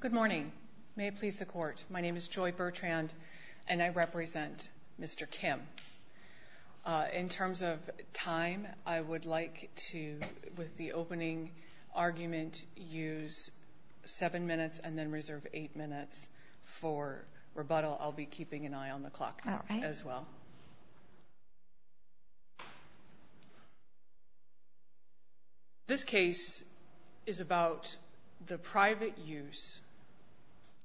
Good morning. May it please the Court, my name is Joy Bertrand and I represent Mr. Kimm. In terms of time, I would like to, with the opening argument, use seven minutes and then reserve eight minutes for rebuttal. I'll be keeping an eye on the clock as well. This case is about the private use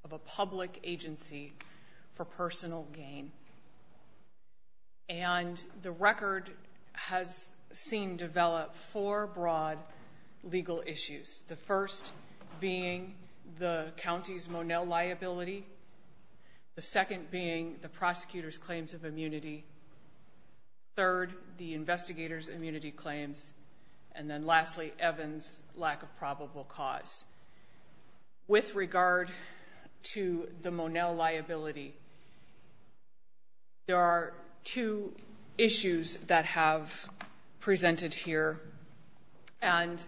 of a public agency for personal gain, and the record has seen develop four broad legal issues. The first being the county's Monell liability, the second being the prosecutor's claims of immunity, third, the investigator's immunity claims, and then lastly, Evan's lack of probable cause. With regard to the Monell liability, there are two issues that have presented here, and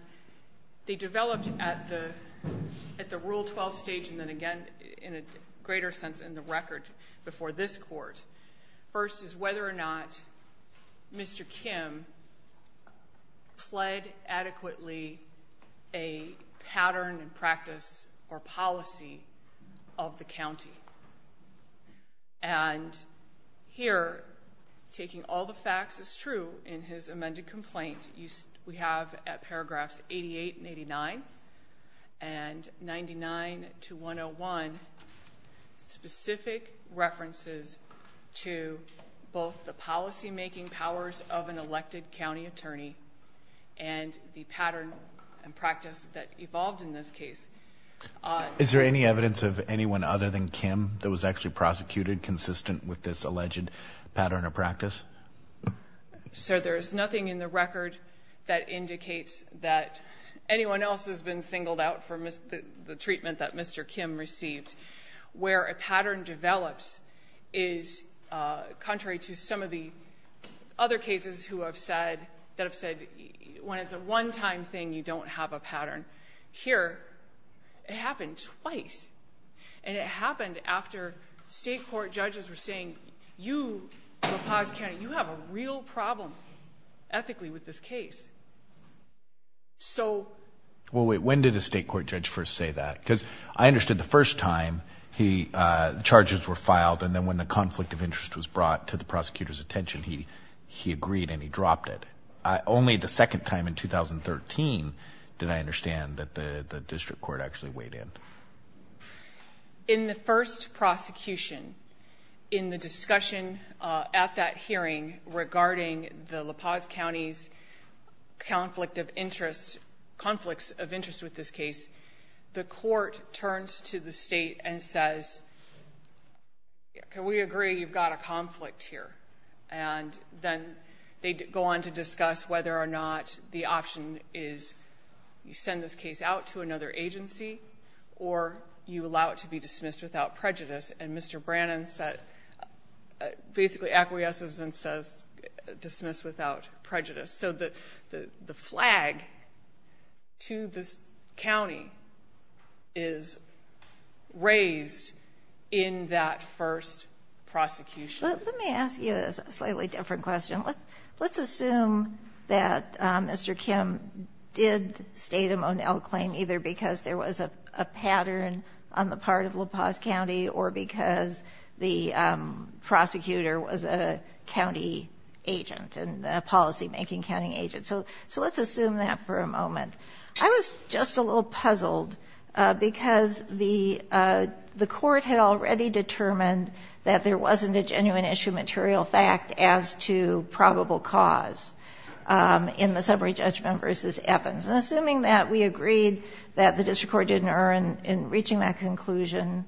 they developed at the Rule 12 stage and then again, in a greater sense, in the record before this Court. First is whether or not Mr. Kimm pled adequately a pattern and practice or policy of the county. And here, taking all the facts as true in his amended complaint, we have at paragraphs 88 and 89, and 99 to 101, specific references to both the policymaking powers of an elected county attorney and the pattern and practice that evolved in this case. Is there any evidence of anyone other than Kimm that was actually prosecuted consistent with this alleged pattern or practice? Sir, there is nothing in the record that indicates that anyone else has been singled out for the treatment that Mr. Kimm received. Where a pattern develops is contrary to some of the other cases that have said when it's a one-time thing, you don't have a pattern. Here, it happened twice, and it happened after state court judges were saying, you, La Paz County, you have a real problem ethically with this case. So... Well, wait, when did a state court judge first say that? Because I understood the first time the charges were filed, and then when the conflict of interest was brought to the prosecutor's attention, he agreed and he dropped it. Only the second time in 2013 did I understand that the district court actually weighed in. In the first prosecution, in the discussion at that hearing regarding the La Paz County's conflicts of interest with this case, the court turns to the state and says, can we agree you've got a conflict here? And then they go on to discuss whether or not the option is you send this case out to another agency or you allow it to be dismissed without prejudice. And Mr. Brannon basically acquiesces and says dismiss without prejudice. So the flag to this county is raised in that first prosecution. Let me ask you a slightly different question. Let's assume that Mr. Kim did state a Monell claim either because there was a pattern on the part of La Paz County or because the prosecutor was a county agent and a policymaking county agent. So let's assume that for a moment. I was just a little puzzled because the court had already determined that there wasn't a genuine issue material fact as to probable cause in the summary judgment versus Evans. And assuming that we agreed that the district court didn't err in reaching that conclusion,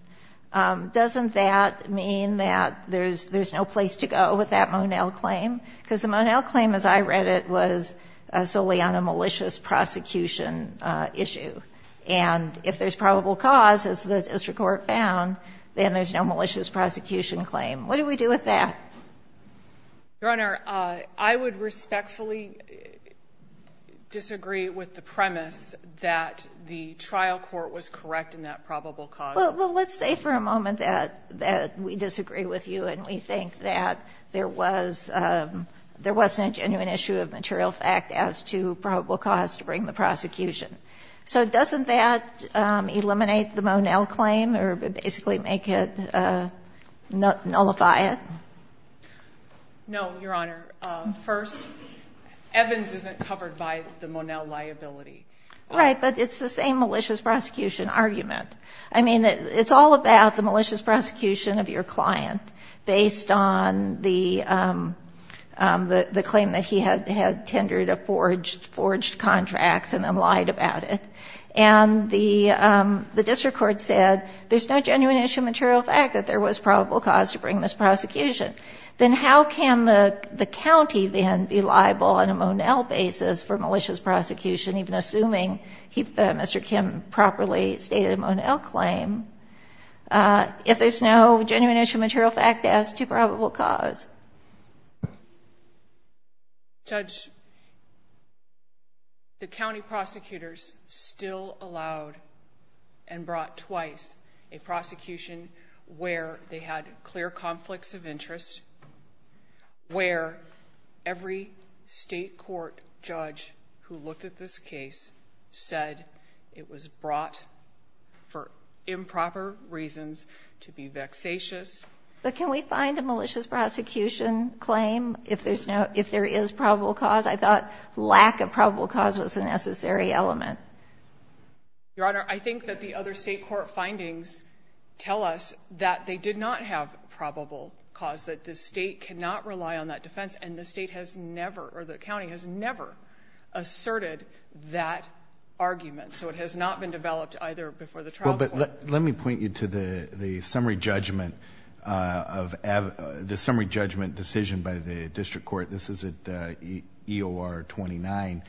doesn't that mean that there's no place to go with that Monell claim? Because the Monell claim, as I read it, was solely on a malicious prosecution issue. And if there's probable cause, as the district court found, then there's no malicious prosecution claim. What do we do with that? Your Honor, I would respectfully disagree with the premise that the trial court was correct in that probable cause. Well, let's say for a moment that we disagree with you and we think that there was a genuine issue of material fact as to probable cause to bring the prosecution. So doesn't that eliminate the Monell claim or basically make it, nullify it? No, Your Honor. First, Evans isn't covered by the Monell liability. Right, but it's the same malicious prosecution argument. I mean, it's all about the malicious prosecution of your client, based on the claim that he had tendered a forged contract and then lied about it. And the district court said there's no genuine issue of material fact that there was probable cause to bring this prosecution. Then how can the county then be liable on a Monell basis for malicious prosecution, even assuming Mr. Kim properly stated a Monell claim, if there's no genuine issue of material fact as to probable cause? Judge, the county prosecutors still allowed and brought twice a prosecution where they had clear conflicts of interest, where every State court judge who looked at this case said it was brought for improper reasons to be vexatious. But can we find a malicious prosecution claim if there is probable cause? I thought lack of probable cause was a necessary element. Your Honor, I think that the other State court findings tell us that they did not have probable cause, that the State cannot rely on that defense, and the State has never or the county has never asserted that argument. So it has not been developed either before the trial. Well, but let me point you to the summary judgment decision by the district court. This is at EOR 29.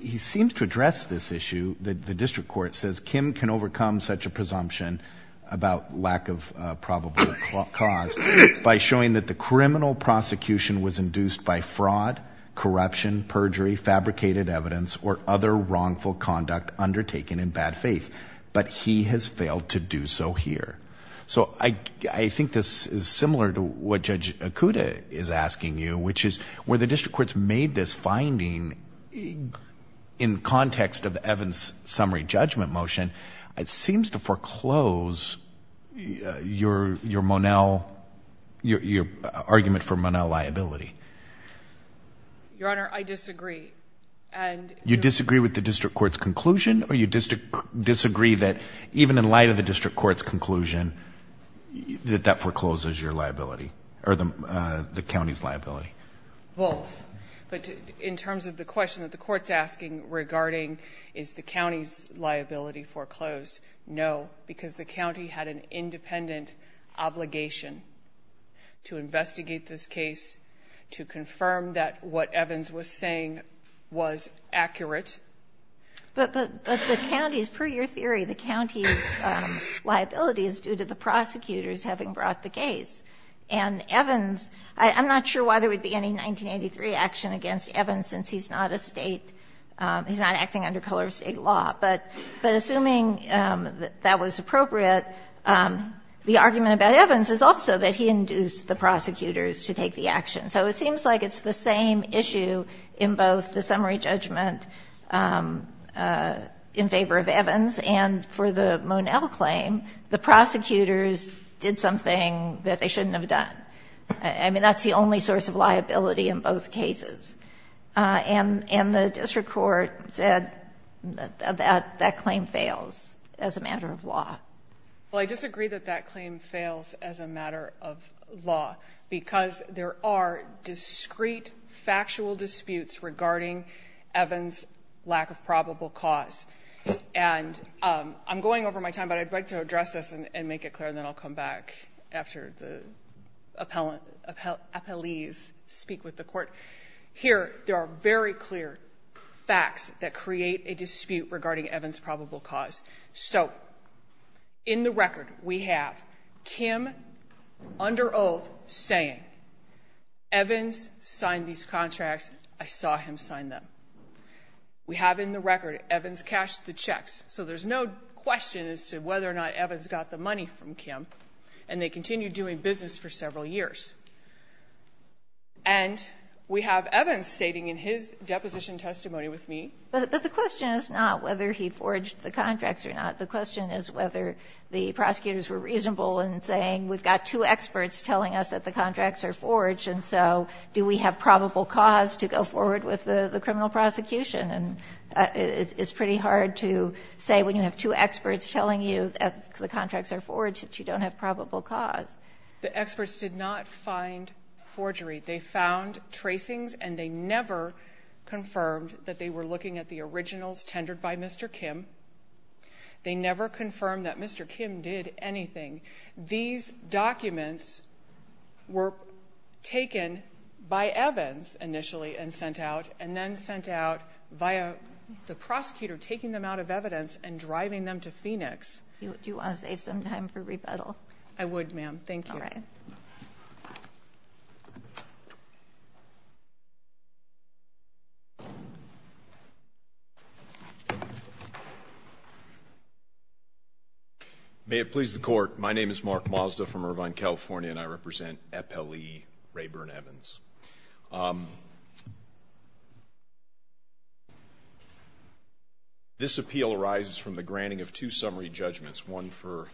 He seems to address this issue. The district court says Kim can overcome such a presumption about lack of probable cause by showing that the criminal prosecution was induced by fraud, corruption, perjury, fabricated evidence, or other wrongful conduct undertaken in bad faith. But he has failed to do so here. So I think this is similar to what Judge Okuda is asking you, which is where the district courts made this finding in context of Evan's summary judgment motion, it seems to foreclose your argument for Monell liability. Your Honor, I disagree. You disagree with the district court's conclusion, or you disagree that even in light of the district court's conclusion that that forecloses your liability, or the county's liability? Both. But in terms of the question that the Court's asking regarding is the county's liability foreclosed, no, because the county had an independent obligation to investigate this case, to confirm that what Evans was saying was accurate. But the county's, per your theory, the county's liability is due to the prosecutors having brought the case. And Evans, I'm not sure why there would be any 1983 action against Evans since he's not a State, he's not acting under color of State law. But assuming that that was appropriate, the argument about Evans is also that he induced the prosecutors to take the action. So it seems like it's the same issue in both the summary judgment in favor of Evans and for the Monell claim, the prosecutors did something that they shouldn't have done. I mean, that's the only source of liability in both cases. And the district court said that that claim fails as a matter of law. Well, I disagree that that claim fails as a matter of law, because there are discrete factual disputes regarding Evans' lack of probable cause. And I'm going over my time, but I'd like to address this and make it clear, and then I'll come back after the appellees speak with the Court. Here, there are very clear facts that create a dispute regarding Evans' probable cause. So in the record, we have Kim under oath saying, Evans signed these contracts, I saw him sign them. We have in the record, Evans cashed the checks. So there's no question as to whether or not Evans got the money from Kim. And they continued doing business for several years. And we have Evans stating in his deposition testimony with me. But the question is not whether he forged the contracts or not. The question is whether the prosecutors were reasonable in saying, we've got two experts telling us that the contracts are forged, and so do we have probable cause to go forward with the criminal prosecution. And it's pretty hard to say when you have two experts telling you that the contracts are forged that you don't have probable cause. The experts did not find forgery. They found tracings, and they never confirmed that they were looking at the originals tendered by Mr. Kim. They never confirmed that Mr. Kim did anything. These documents were taken by Evans initially and sent out, and then sent out via the prosecutor taking them out of evidence and driving them to Phoenix. Do you want to save some time for rebuttal? I would, ma'am. Thank you. All right. May it please the court. My name is Mark Mazda from Irvine, California, and I represent EPLE Rayburn Evans. This appeal arises from the granting of two summary judgments, one for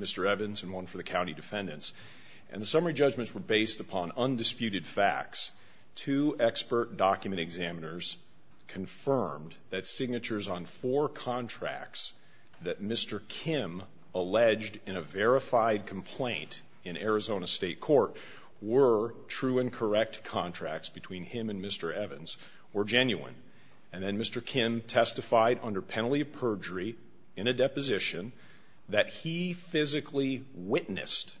Mr. Evans and one for the county defendants. And the summary judgments were based upon undisputed facts. Two expert document examiners confirmed that signatures on four contracts that Mr. Kim alleged in a verified complaint in Arizona State Court were true and correct contracts between him and Mr. Evans were genuine. And then Mr. Kim testified under penalty of perjury in a deposition that he physically witnessed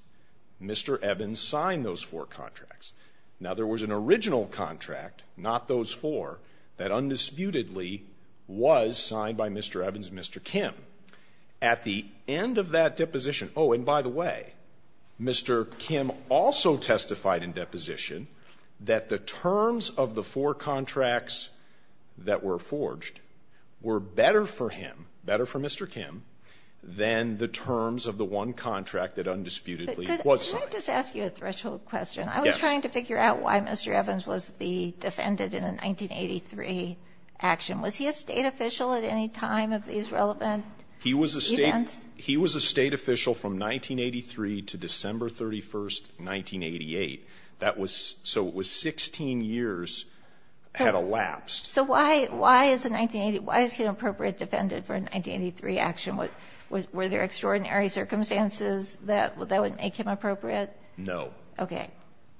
Mr. Evans sign those four contracts. Now, there was an original contract, not those four, that undisputedly was signed by Mr. Evans and Mr. Kim. At the end of that deposition, oh, and by the way, Mr. Kim also testified in deposition that the terms of the four contracts that were forged were better for him, better for Mr. Evans and Mr. Kim. Now, Mr. Evans testified under penalty of perjury in that contract that undisputedly was signed. But could I just ask you a threshold question? Yes. I was trying to figure out why Mr. Evans was the defendant in a 1983 action. Was he a State official at any time of these relevant events? He was a State official from 1983 to December 31, 1988. That was so it was 16 years had elapsed. So why is a 1980, why is he an appropriate defendant for a 1983 action? Were there extraordinary circumstances that would make him appropriate? No. Okay.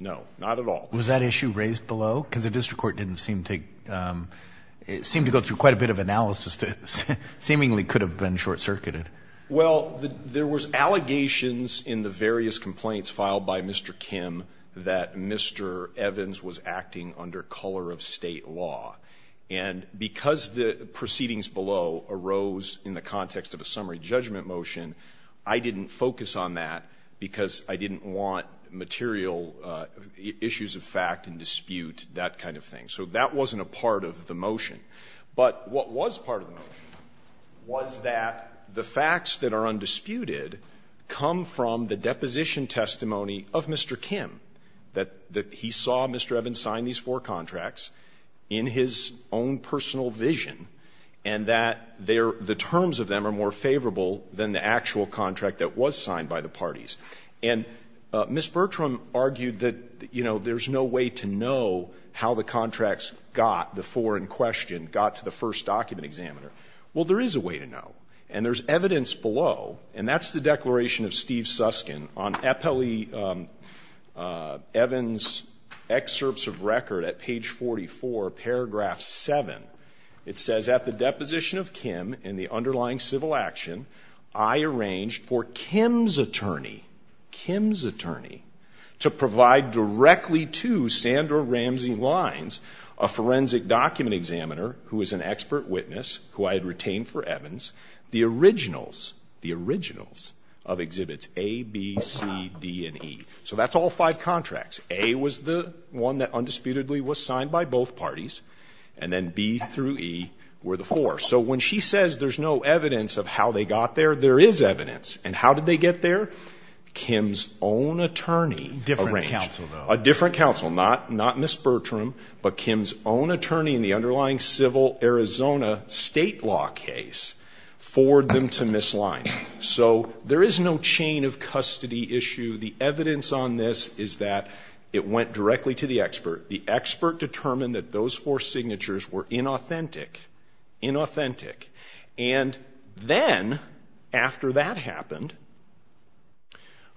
No, not at all. Was that issue raised below? Because the district court didn't seem to go through quite a bit of analysis that seemingly could have been short-circuited. Well, there was allegations in the various complaints filed by Mr. Kim that Mr. Evans was acting under color of State law. And because the proceedings below arose in the context of a summary judgment motion, I didn't focus on that because I didn't want material issues of fact and dispute, that kind of thing. So that wasn't a part of the motion. But what was part of the motion was that the facts that are undisputed come from the deposition testimony of Mr. Kim, that he saw Mr. Evans sign these four contracts in his own personal vision, and that the terms of them are more favorable than the actual contract that was signed by the parties. And Ms. Bertram argued that, you know, there's no way to know how the contracts got, the four in question, got to the first document examiner. Well, there is a way to know, and there's evidence below. And that's the declaration of Steve Suskin on Eppeli Evans' excerpts of record at page 44, paragraph 7. It says, At the deposition of Kim in the underlying civil action, I arranged for Kim's attorney to provide directly to Sandra Ramsey Lines, a forensic document examiner who is an expert witness, who I had retained for Evans, the originals, the originals of exhibits A, B, C, D, and E. So that's all five contracts. A was the one that undisputedly was signed by both parties, and then B through E were the four. So when she says there's no evidence of how they got there, there is evidence. And how did they get there? Kim's own attorney arranged. A different counsel, though. A different counsel. Not Ms. Bertram, but Kim's own attorney in the underlying civil Arizona state law case forwarded them to Ms. Lines. So there is no chain of custody issue. The evidence on this is that it went directly to the expert. The expert determined that those four signatures were inauthentic, inauthentic. And then after that happened,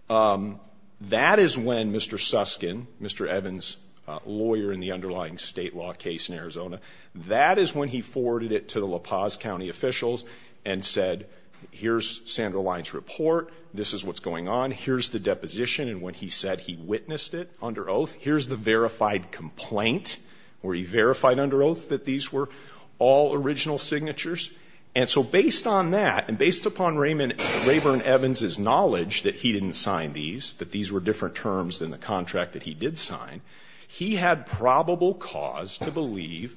that is when Mr. Susskind, Mr. Evans' lawyer in the underlying state law case in Arizona, that is when he forwarded it to the La Paz County officials and said, here's Sandra Lines' report, this is what's going on, here's the deposition, and when he said he witnessed it under oath, here's the verified complaint where he verified under oath that these were all original signatures. And so based on that, and based upon Rayburn Evans' knowledge that he didn't sign these, that these were different terms than the contract that he did sign, he had probable cause to believe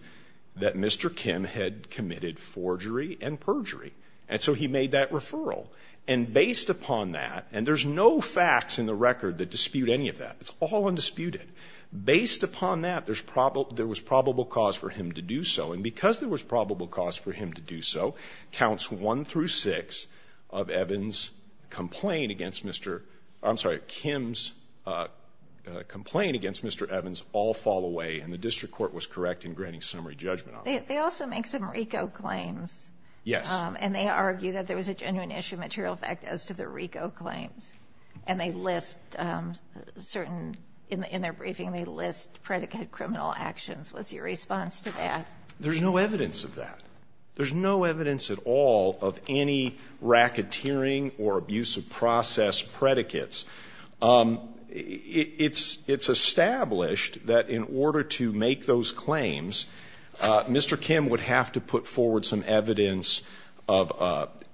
that Mr. Kim had committed forgery and perjury. And so he made that referral. And based upon that, and there's no facts in the record that dispute any of that. It's all undisputed. Based upon that, there's probable – there was probable cause for him to do so. And because there was probable cause for him to do so, counts 1 through 6 of Evans' complaint against Mr. – I'm sorry, Kim's complaint against Mr. Evans all fall away, and the district court was correct in granting summary judgment on that. They also make some RICO claims. Yes. And they argue that there was a genuine issue of material effect as to the RICO claims. And they list certain – in their briefing, they list predicate criminal actions. What's your response to that? There's no evidence of that. There's no evidence at all of any racketeering or abuse of process predicates. It's established that in order to make those claims, Mr. Kim would have to put forward some evidence of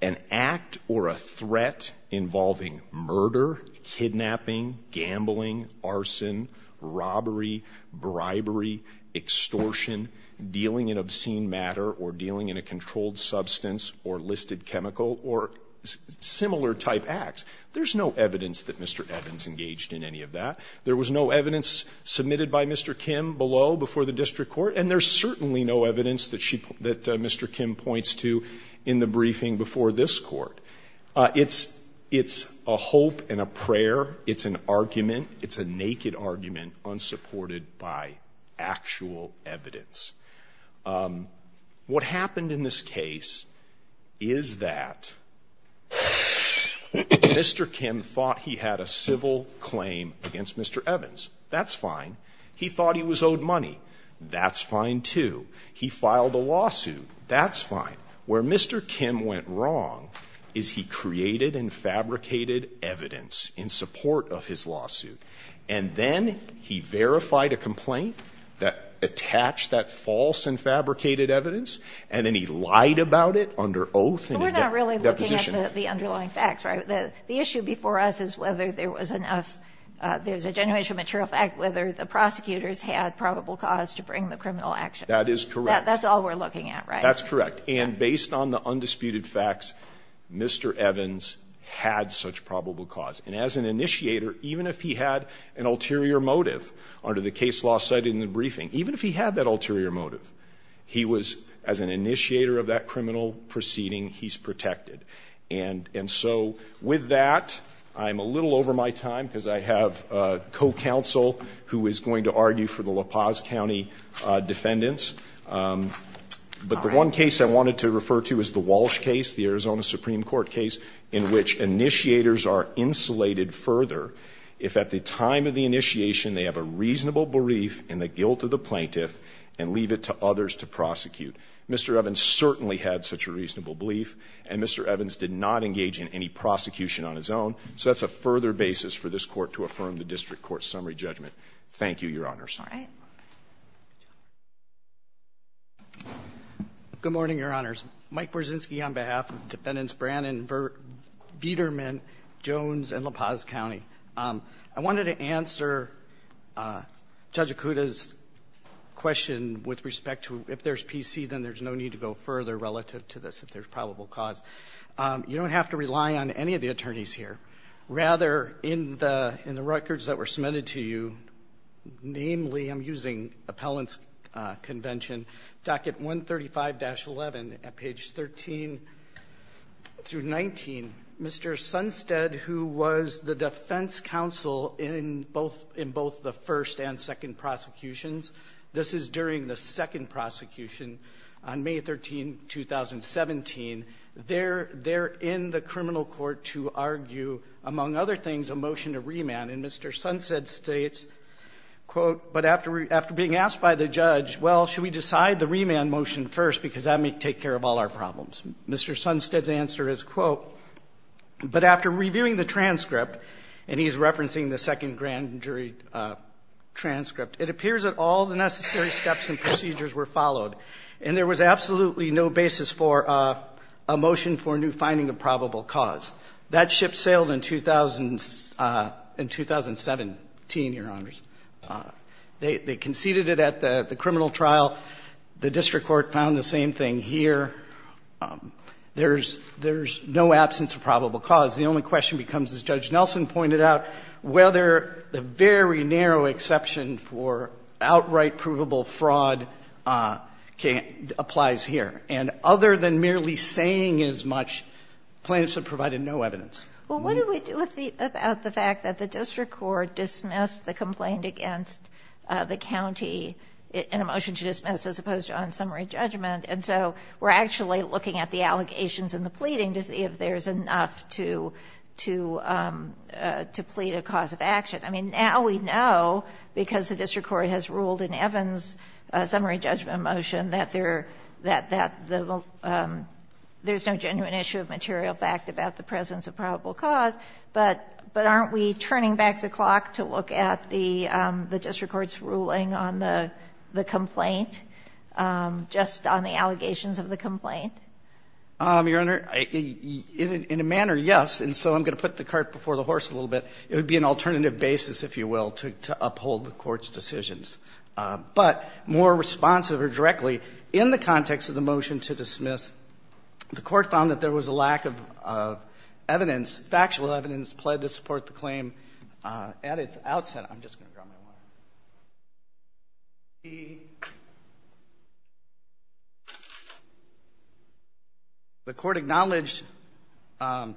an act or a threat involving murder, kidnapping, gambling, arson, robbery, bribery, extortion, dealing in obscene matter or dealing in a controlled substance or listed chemical or similar type acts. There's no evidence that Mr. Evans engaged in any of that. There was no evidence submitted by Mr. Kim below before the district court. And there's certainly no evidence that she – that Mr. Kim points to in the briefing before this Court. It's a hope and a prayer. It's an argument. It's a naked argument unsupported by actual evidence. What happened in this case is that Mr. Kim thought he had a civil claim against Mr. Evans. That's fine. He thought he was owed money. That's fine, too. He filed a lawsuit. That's fine. Where Mr. Kim went wrong is he created and fabricated evidence in support of his lawsuit, and then he verified a complaint that attached that false and fabricated evidence, and then he lied about it under oath in a deposition. We're not really looking at the underlying facts, right? The issue before us is whether there was enough – there's a general issue of material fact, whether the prosecutors had probable cause to bring the criminal action. That is correct. That's all we're looking at, right? That's correct. And based on the undisputed facts, Mr. Evans had such probable cause. And as an initiator, even if he had an ulterior motive under the case law cited in the briefing, even if he had that ulterior motive, he was – as an initiator of that criminal proceeding, he's protected. And so with that, I'm a little over my time because I have a co-counsel who is going to argue for the La Paz County defendants. But the one case I wanted to refer to is the Walsh case, the Arizona Supreme Court case, in which initiators are insulated further if at the time of the initiation they have a reasonable belief in the guilt of the plaintiff and leave it to others to prosecute. Mr. Evans certainly had such a reasonable belief, and Mr. Evans did not engage in any prosecution on his own. So that's a further basis for this Court to affirm the district court summary judgment. Thank you, Your Honors. All right. Good morning, Your Honors. Mike Borzynski on behalf of Defendants Brannon, Viederman, Jones, and La Paz County. further relative to this if there's probable cause. You don't have to rely on any of the attorneys here. Rather, in the records that were submitted to you, namely, I'm using appellant's convention, docket 135-11 at page 13 through 19, Mr. Sunstead, who was the defense counsel in both the first and second prosecutions, this is during the second prosecution on May 13, 2017, they're in the criminal court to argue, among other things, a motion to remand. And Mr. Sunstead states, quote, but after being asked by the judge, well, should we decide the remand motion first, because that may take care of all our problems. Mr. Sunstead's answer is, quote, but after reviewing the transcript, and he's referencing the second grand jury transcript, it appears that all the necessary steps and procedures were followed. And there was absolutely no basis for a motion for new finding of probable cause. That ship sailed in 2017, Your Honors. They conceded it at the criminal trial. The district court found the same thing here. There's no absence of probable cause. The only question becomes, as Judge Nelson pointed out, whether the very narrow exception for outright provable fraud applies here. And other than merely saying as much, plaintiffs have provided no evidence. Well, what do we do about the fact that the district court dismissed the complaint against the county in a motion to dismiss, as opposed to on summary judgment? And so we're actually looking at the allegations and the pleading to see if there's enough to plead a cause of action. I mean, now we know, because the district court has ruled in Evans' summary judgment motion, that there's no genuine issue of material fact about the presence of probable cause, but aren't we turning back the clock to look at the district court's ruling on the complaint, just on the allegations of the complaint? Your Honor, in a manner, yes. And so I'm going to put the cart before the horse a little bit. It would be an alternative basis, if you will, to uphold the Court's decisions. But more responsive or directly, in the context of the motion to dismiss, the Court found that there was a lack of evidence, factual evidence, pled to support the claim at its outset. I'm just going to draw my line. The Court acknowledged that,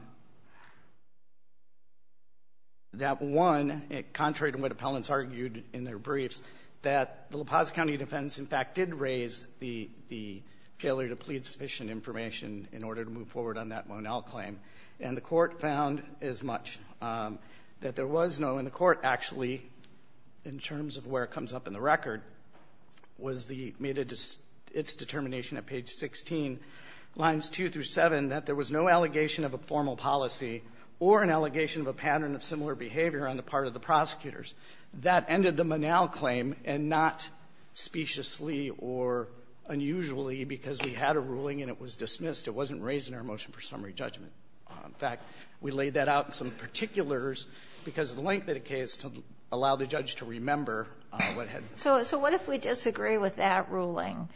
one, contrary to what appellants argued in their briefs, that the La Paz County defendants, in fact, did raise the failure to plead sufficient information in order to move forward on that Monell claim. And the Court found as much, that there was no, in the Court, actually, in terms of where it comes up in the record, was the, made its determination at page 16, lines 2 through 7, that there was no allegation of a formal policy or an allegation of a pattern of similar behavior on the part of the prosecutors. That ended the Monell claim, and not speciously or unusually because we had a ruling and it was dismissed. It wasn't raised in our motion for summary judgment. In fact, we laid that out in some particulars because of the length of the case to allow the judge to remember what had been said. So what if we disagree with that ruling?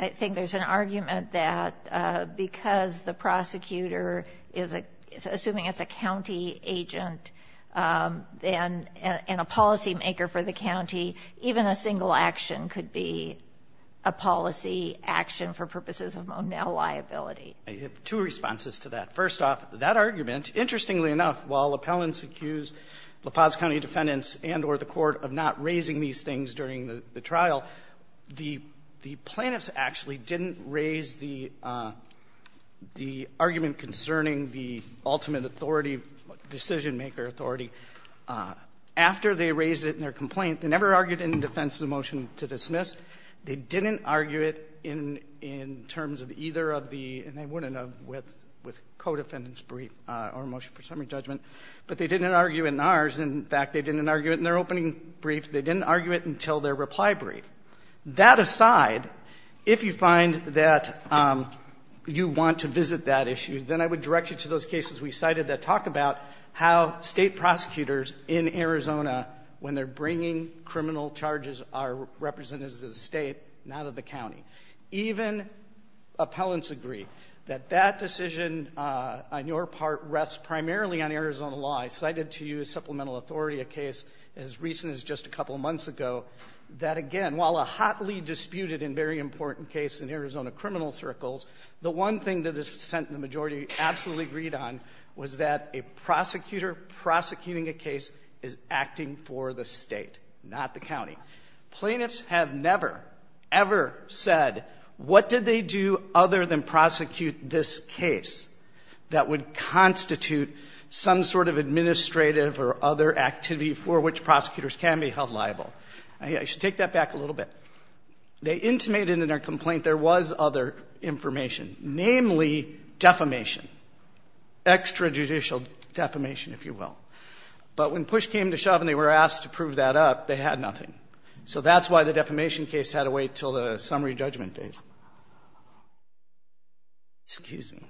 I think there's an argument that because the prosecutor is assuming it's a county agent and a policymaker for the county, even a single action could be a policy action for purposes of Monell liability. I have two responses to that. First off, that argument, interestingly enough, while appellants accuse LaPaz County defendants and or the Court of not raising these things during the trial, the plaintiffs actually didn't raise the argument concerning the ultimate authority, decision-maker authority, after they raised it in their complaint. They never argued it in defense of the motion to dismiss. They didn't argue it in terms of either of the, and they wouldn't have with co-defendant's brief or motion for summary judgment, but they didn't argue it in ours. In fact, they didn't argue it in their opening brief. They didn't argue it until their reply brief. That aside, if you find that you want to visit that issue, then I would direct you to those cases we cited that talk about how State prosecutors in Arizona, when they're acting for the State, not of the county. Even appellants agree that that decision on your part rests primarily on Arizona law. I cited to you a supplemental authority, a case as recent as just a couple months ago, that again, while a hotly disputed and very important case in Arizona criminal circles, the one thing that the majority absolutely agreed on was that a prosecutor prosecuting Plaintiffs have never, ever said what did they do other than prosecute this case that would constitute some sort of administrative or other activity for which prosecutors can be held liable. I should take that back a little bit. They intimated in their complaint there was other information, namely defamation, extrajudicial defamation, if you will. But when push came to shove and they were asked to prove that up, they had nothing. So that's why the defamation case had to wait until the summary judgment phase. Excuse me.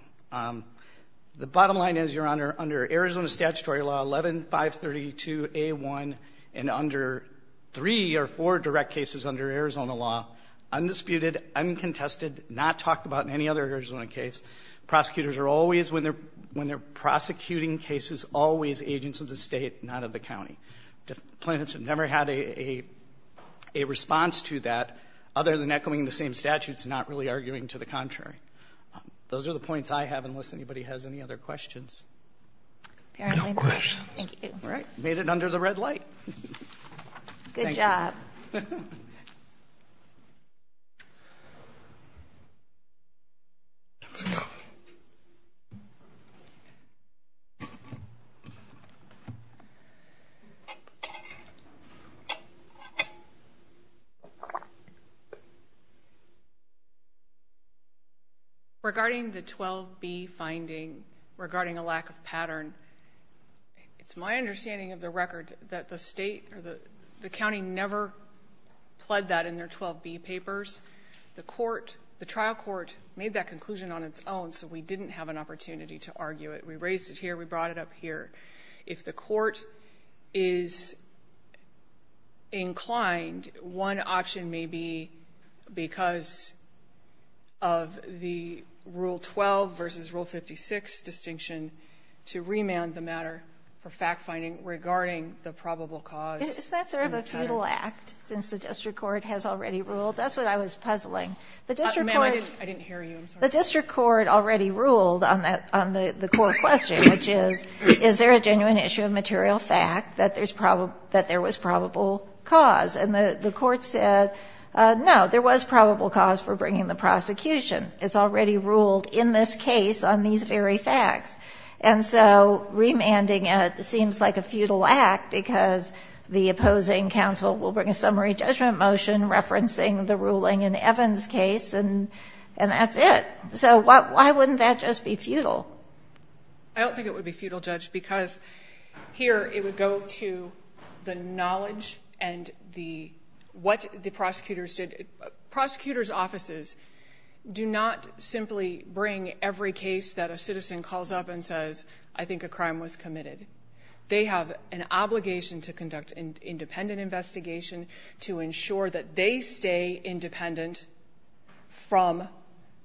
The bottom line is, Your Honor, under Arizona statutory law 11-532-A1 and under three or four direct cases under Arizona law, undisputed, uncontested, not talked about in any other Arizona case, prosecutors are always, when they're prosecuting cases, always agents of the State, not of the county. Plaintiffs have never had a response to that other than echoing the same statutes and not really arguing to the contrary. Those are the points I have, unless anybody has any other questions. No questions. Thank you. Made it under the red light. Good job. Thank you. Regarding the 12-B finding, regarding a lack of pattern, it's my understanding of the State or the county never pled that in their 12-B papers. The trial court made that conclusion on its own, so we didn't have an opportunity to argue it. We raised it here. We brought it up here. If the court is inclined, one option may be because of the Rule 12 versus Rule 56 distinction, to remand the matter for fact-finding regarding the probable cause. Isn't that sort of a futile act, since the district court has already ruled? That's what I was puzzling. The district court. Ma'am, I didn't hear you. I'm sorry. The district court already ruled on that, on the court question, which is, is there a genuine issue of material fact that there was probable cause? And the court said, no, there was probable cause for bringing the prosecution. It's already ruled in this case on these very facts. And so remanding it seems like a futile act, because the opposing counsel will bring a summary judgment motion referencing the ruling in Evan's case, and that's it. So why wouldn't that just be futile? I don't think it would be futile, Judge, because here it would go to the knowledge and what the prosecutors did. Prosecutors' offices do not simply bring every case that a citizen calls up and says, I think a crime was committed. They have an obligation to conduct an independent investigation to ensure that they stay independent from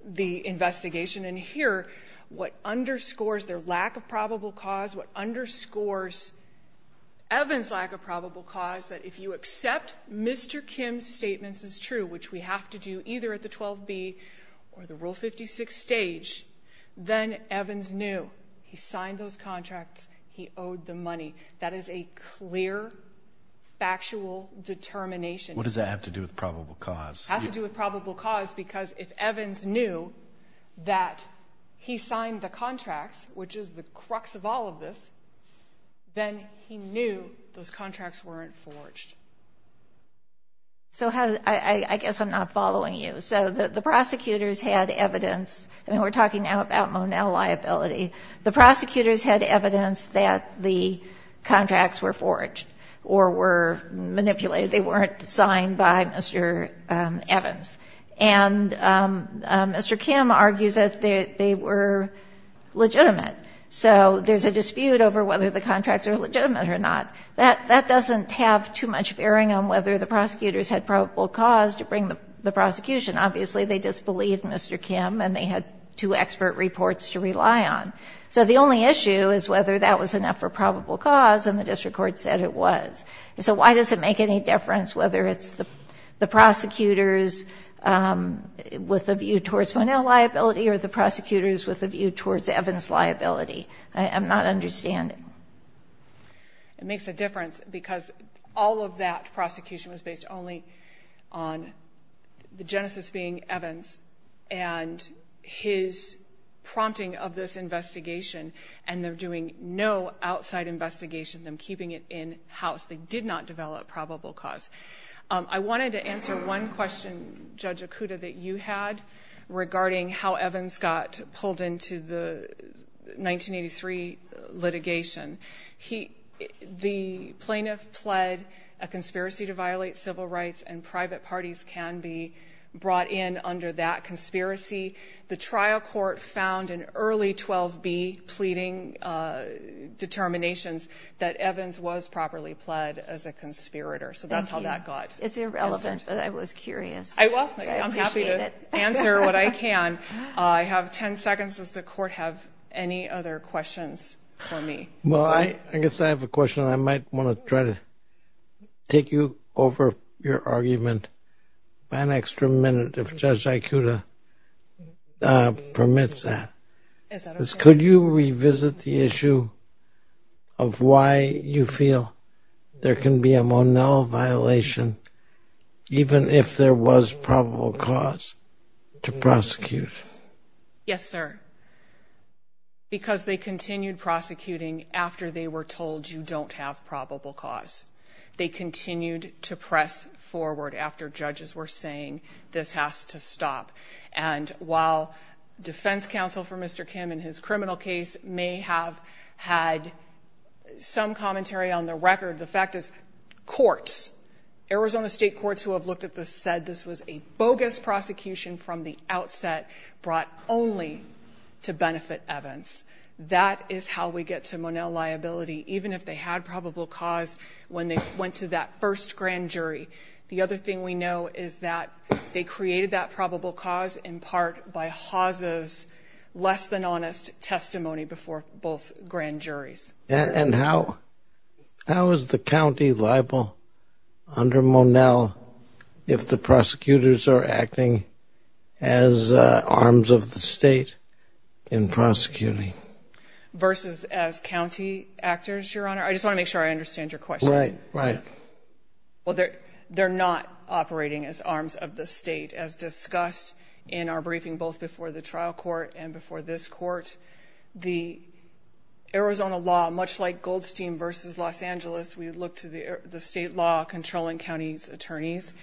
the investigation. And here, what underscores their lack of probable cause, what underscores Evans' lack of probable cause, that if you accept Mr. Kim's statements as true, which we have to do either at the 12B or the Rule 56 stage, then Evans knew. He signed those contracts. He owed the money. That is a clear, factual determination. What does that have to do with probable cause? It has to do with probable cause, because if Evans knew that he signed the contracts, which is the crux of all of this, then he knew those contracts weren't forged. So how does the ---- I guess I'm not following you. So the prosecutors had evidence. I mean, we're talking now about Monell liability. The prosecutors had evidence that the contracts were forged or were manipulated. They weren't signed by Mr. Evans. And Mr. Kim argues that they were legitimate. So there's a dispute over whether the contracts are legitimate or not. That doesn't have too much bearing on whether the prosecutors had probable cause to bring the prosecution. Obviously, they disbelieved Mr. Kim, and they had two expert reports to rely on. So the only issue is whether that was enough for probable cause, and the district court said it was. So why does it make any difference whether it's the prosecutors with a view towards Monell liability or the prosecutors with a view towards Evans liability? I'm not understanding. It makes a difference because all of that prosecution was based only on the genesis being Evans and his prompting of this investigation, and they're doing no outside investigation. They're keeping it in-house. They did not develop probable cause. I wanted to answer one question, Judge Okuda, that you had regarding how Evans got pulled into the 1983 litigation. The plaintiff pled a conspiracy to violate civil rights, and private parties can be brought in under that conspiracy. The trial court found in early 12B pleading determinations that Evans was properly pled as a conspirator. So that's how that got answered. It's irrelevant, but I was curious. I'm happy to answer what I can. I have 10 seconds. Does the court have any other questions for me? Well, I guess I have a question, and I might want to try to take you over your permits that. Could you revisit the issue of why you feel there can be a Monell violation, even if there was probable cause, to prosecute? Yes, sir. Because they continued prosecuting after they were told, you don't have probable cause. They continued to press forward after judges were saying this has to stop. And while defense counsel for Mr. Kim in his criminal case may have had some commentary on the record, the fact is courts, Arizona state courts who have looked at this said this was a bogus prosecution from the outset brought only to benefit Evans. That is how we get to Monell liability, even if they had probable cause when they went to that first grand jury. The other thing we know is that they created that probable cause in part by Haas's less than honest testimony before both grand juries. And how is the county liable under Monell if the prosecutors are acting as arms of the state in prosecuting? Versus as county actors, Your Honor. I just want to make sure I understand your question. Right, right. Well, they're not operating as arms of the state, as discussed in our briefing both before the trial court and before this court. The Arizona law, much like Goldstein versus Los Angeles, we look to the state law controlling county's attorneys.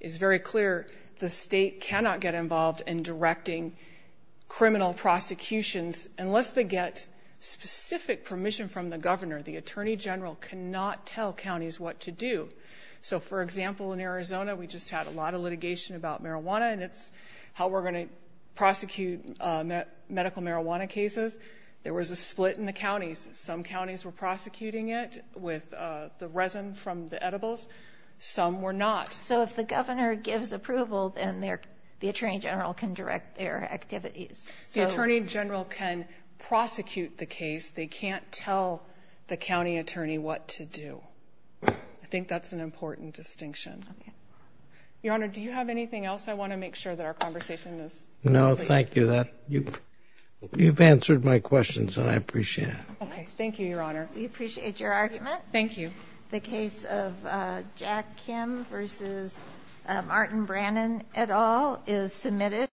It's very clear the state cannot get involved in directing criminal prosecutions unless they get specific permission from the governor. The attorney general cannot tell counties what to do. So, for example, in Arizona, we just had a lot of litigation about marijuana, and it's how we're going to prosecute medical marijuana cases. There was a split in the counties. Some counties were prosecuting it with the resin from the edibles. Some were not. So if the governor gives approval, then the attorney general can direct their activities. The attorney general can prosecute the case. They can't tell the county attorney what to do. I think that's an important distinction. Okay. Your Honor, do you have anything else? I want to make sure that our conversation is complete. No, thank you. You've answered my questions, and I appreciate it. Okay. Thank you, Your Honor. We appreciate your argument. Thank you. The case of Jack Kim versus Martin Brannon et al. is submitted.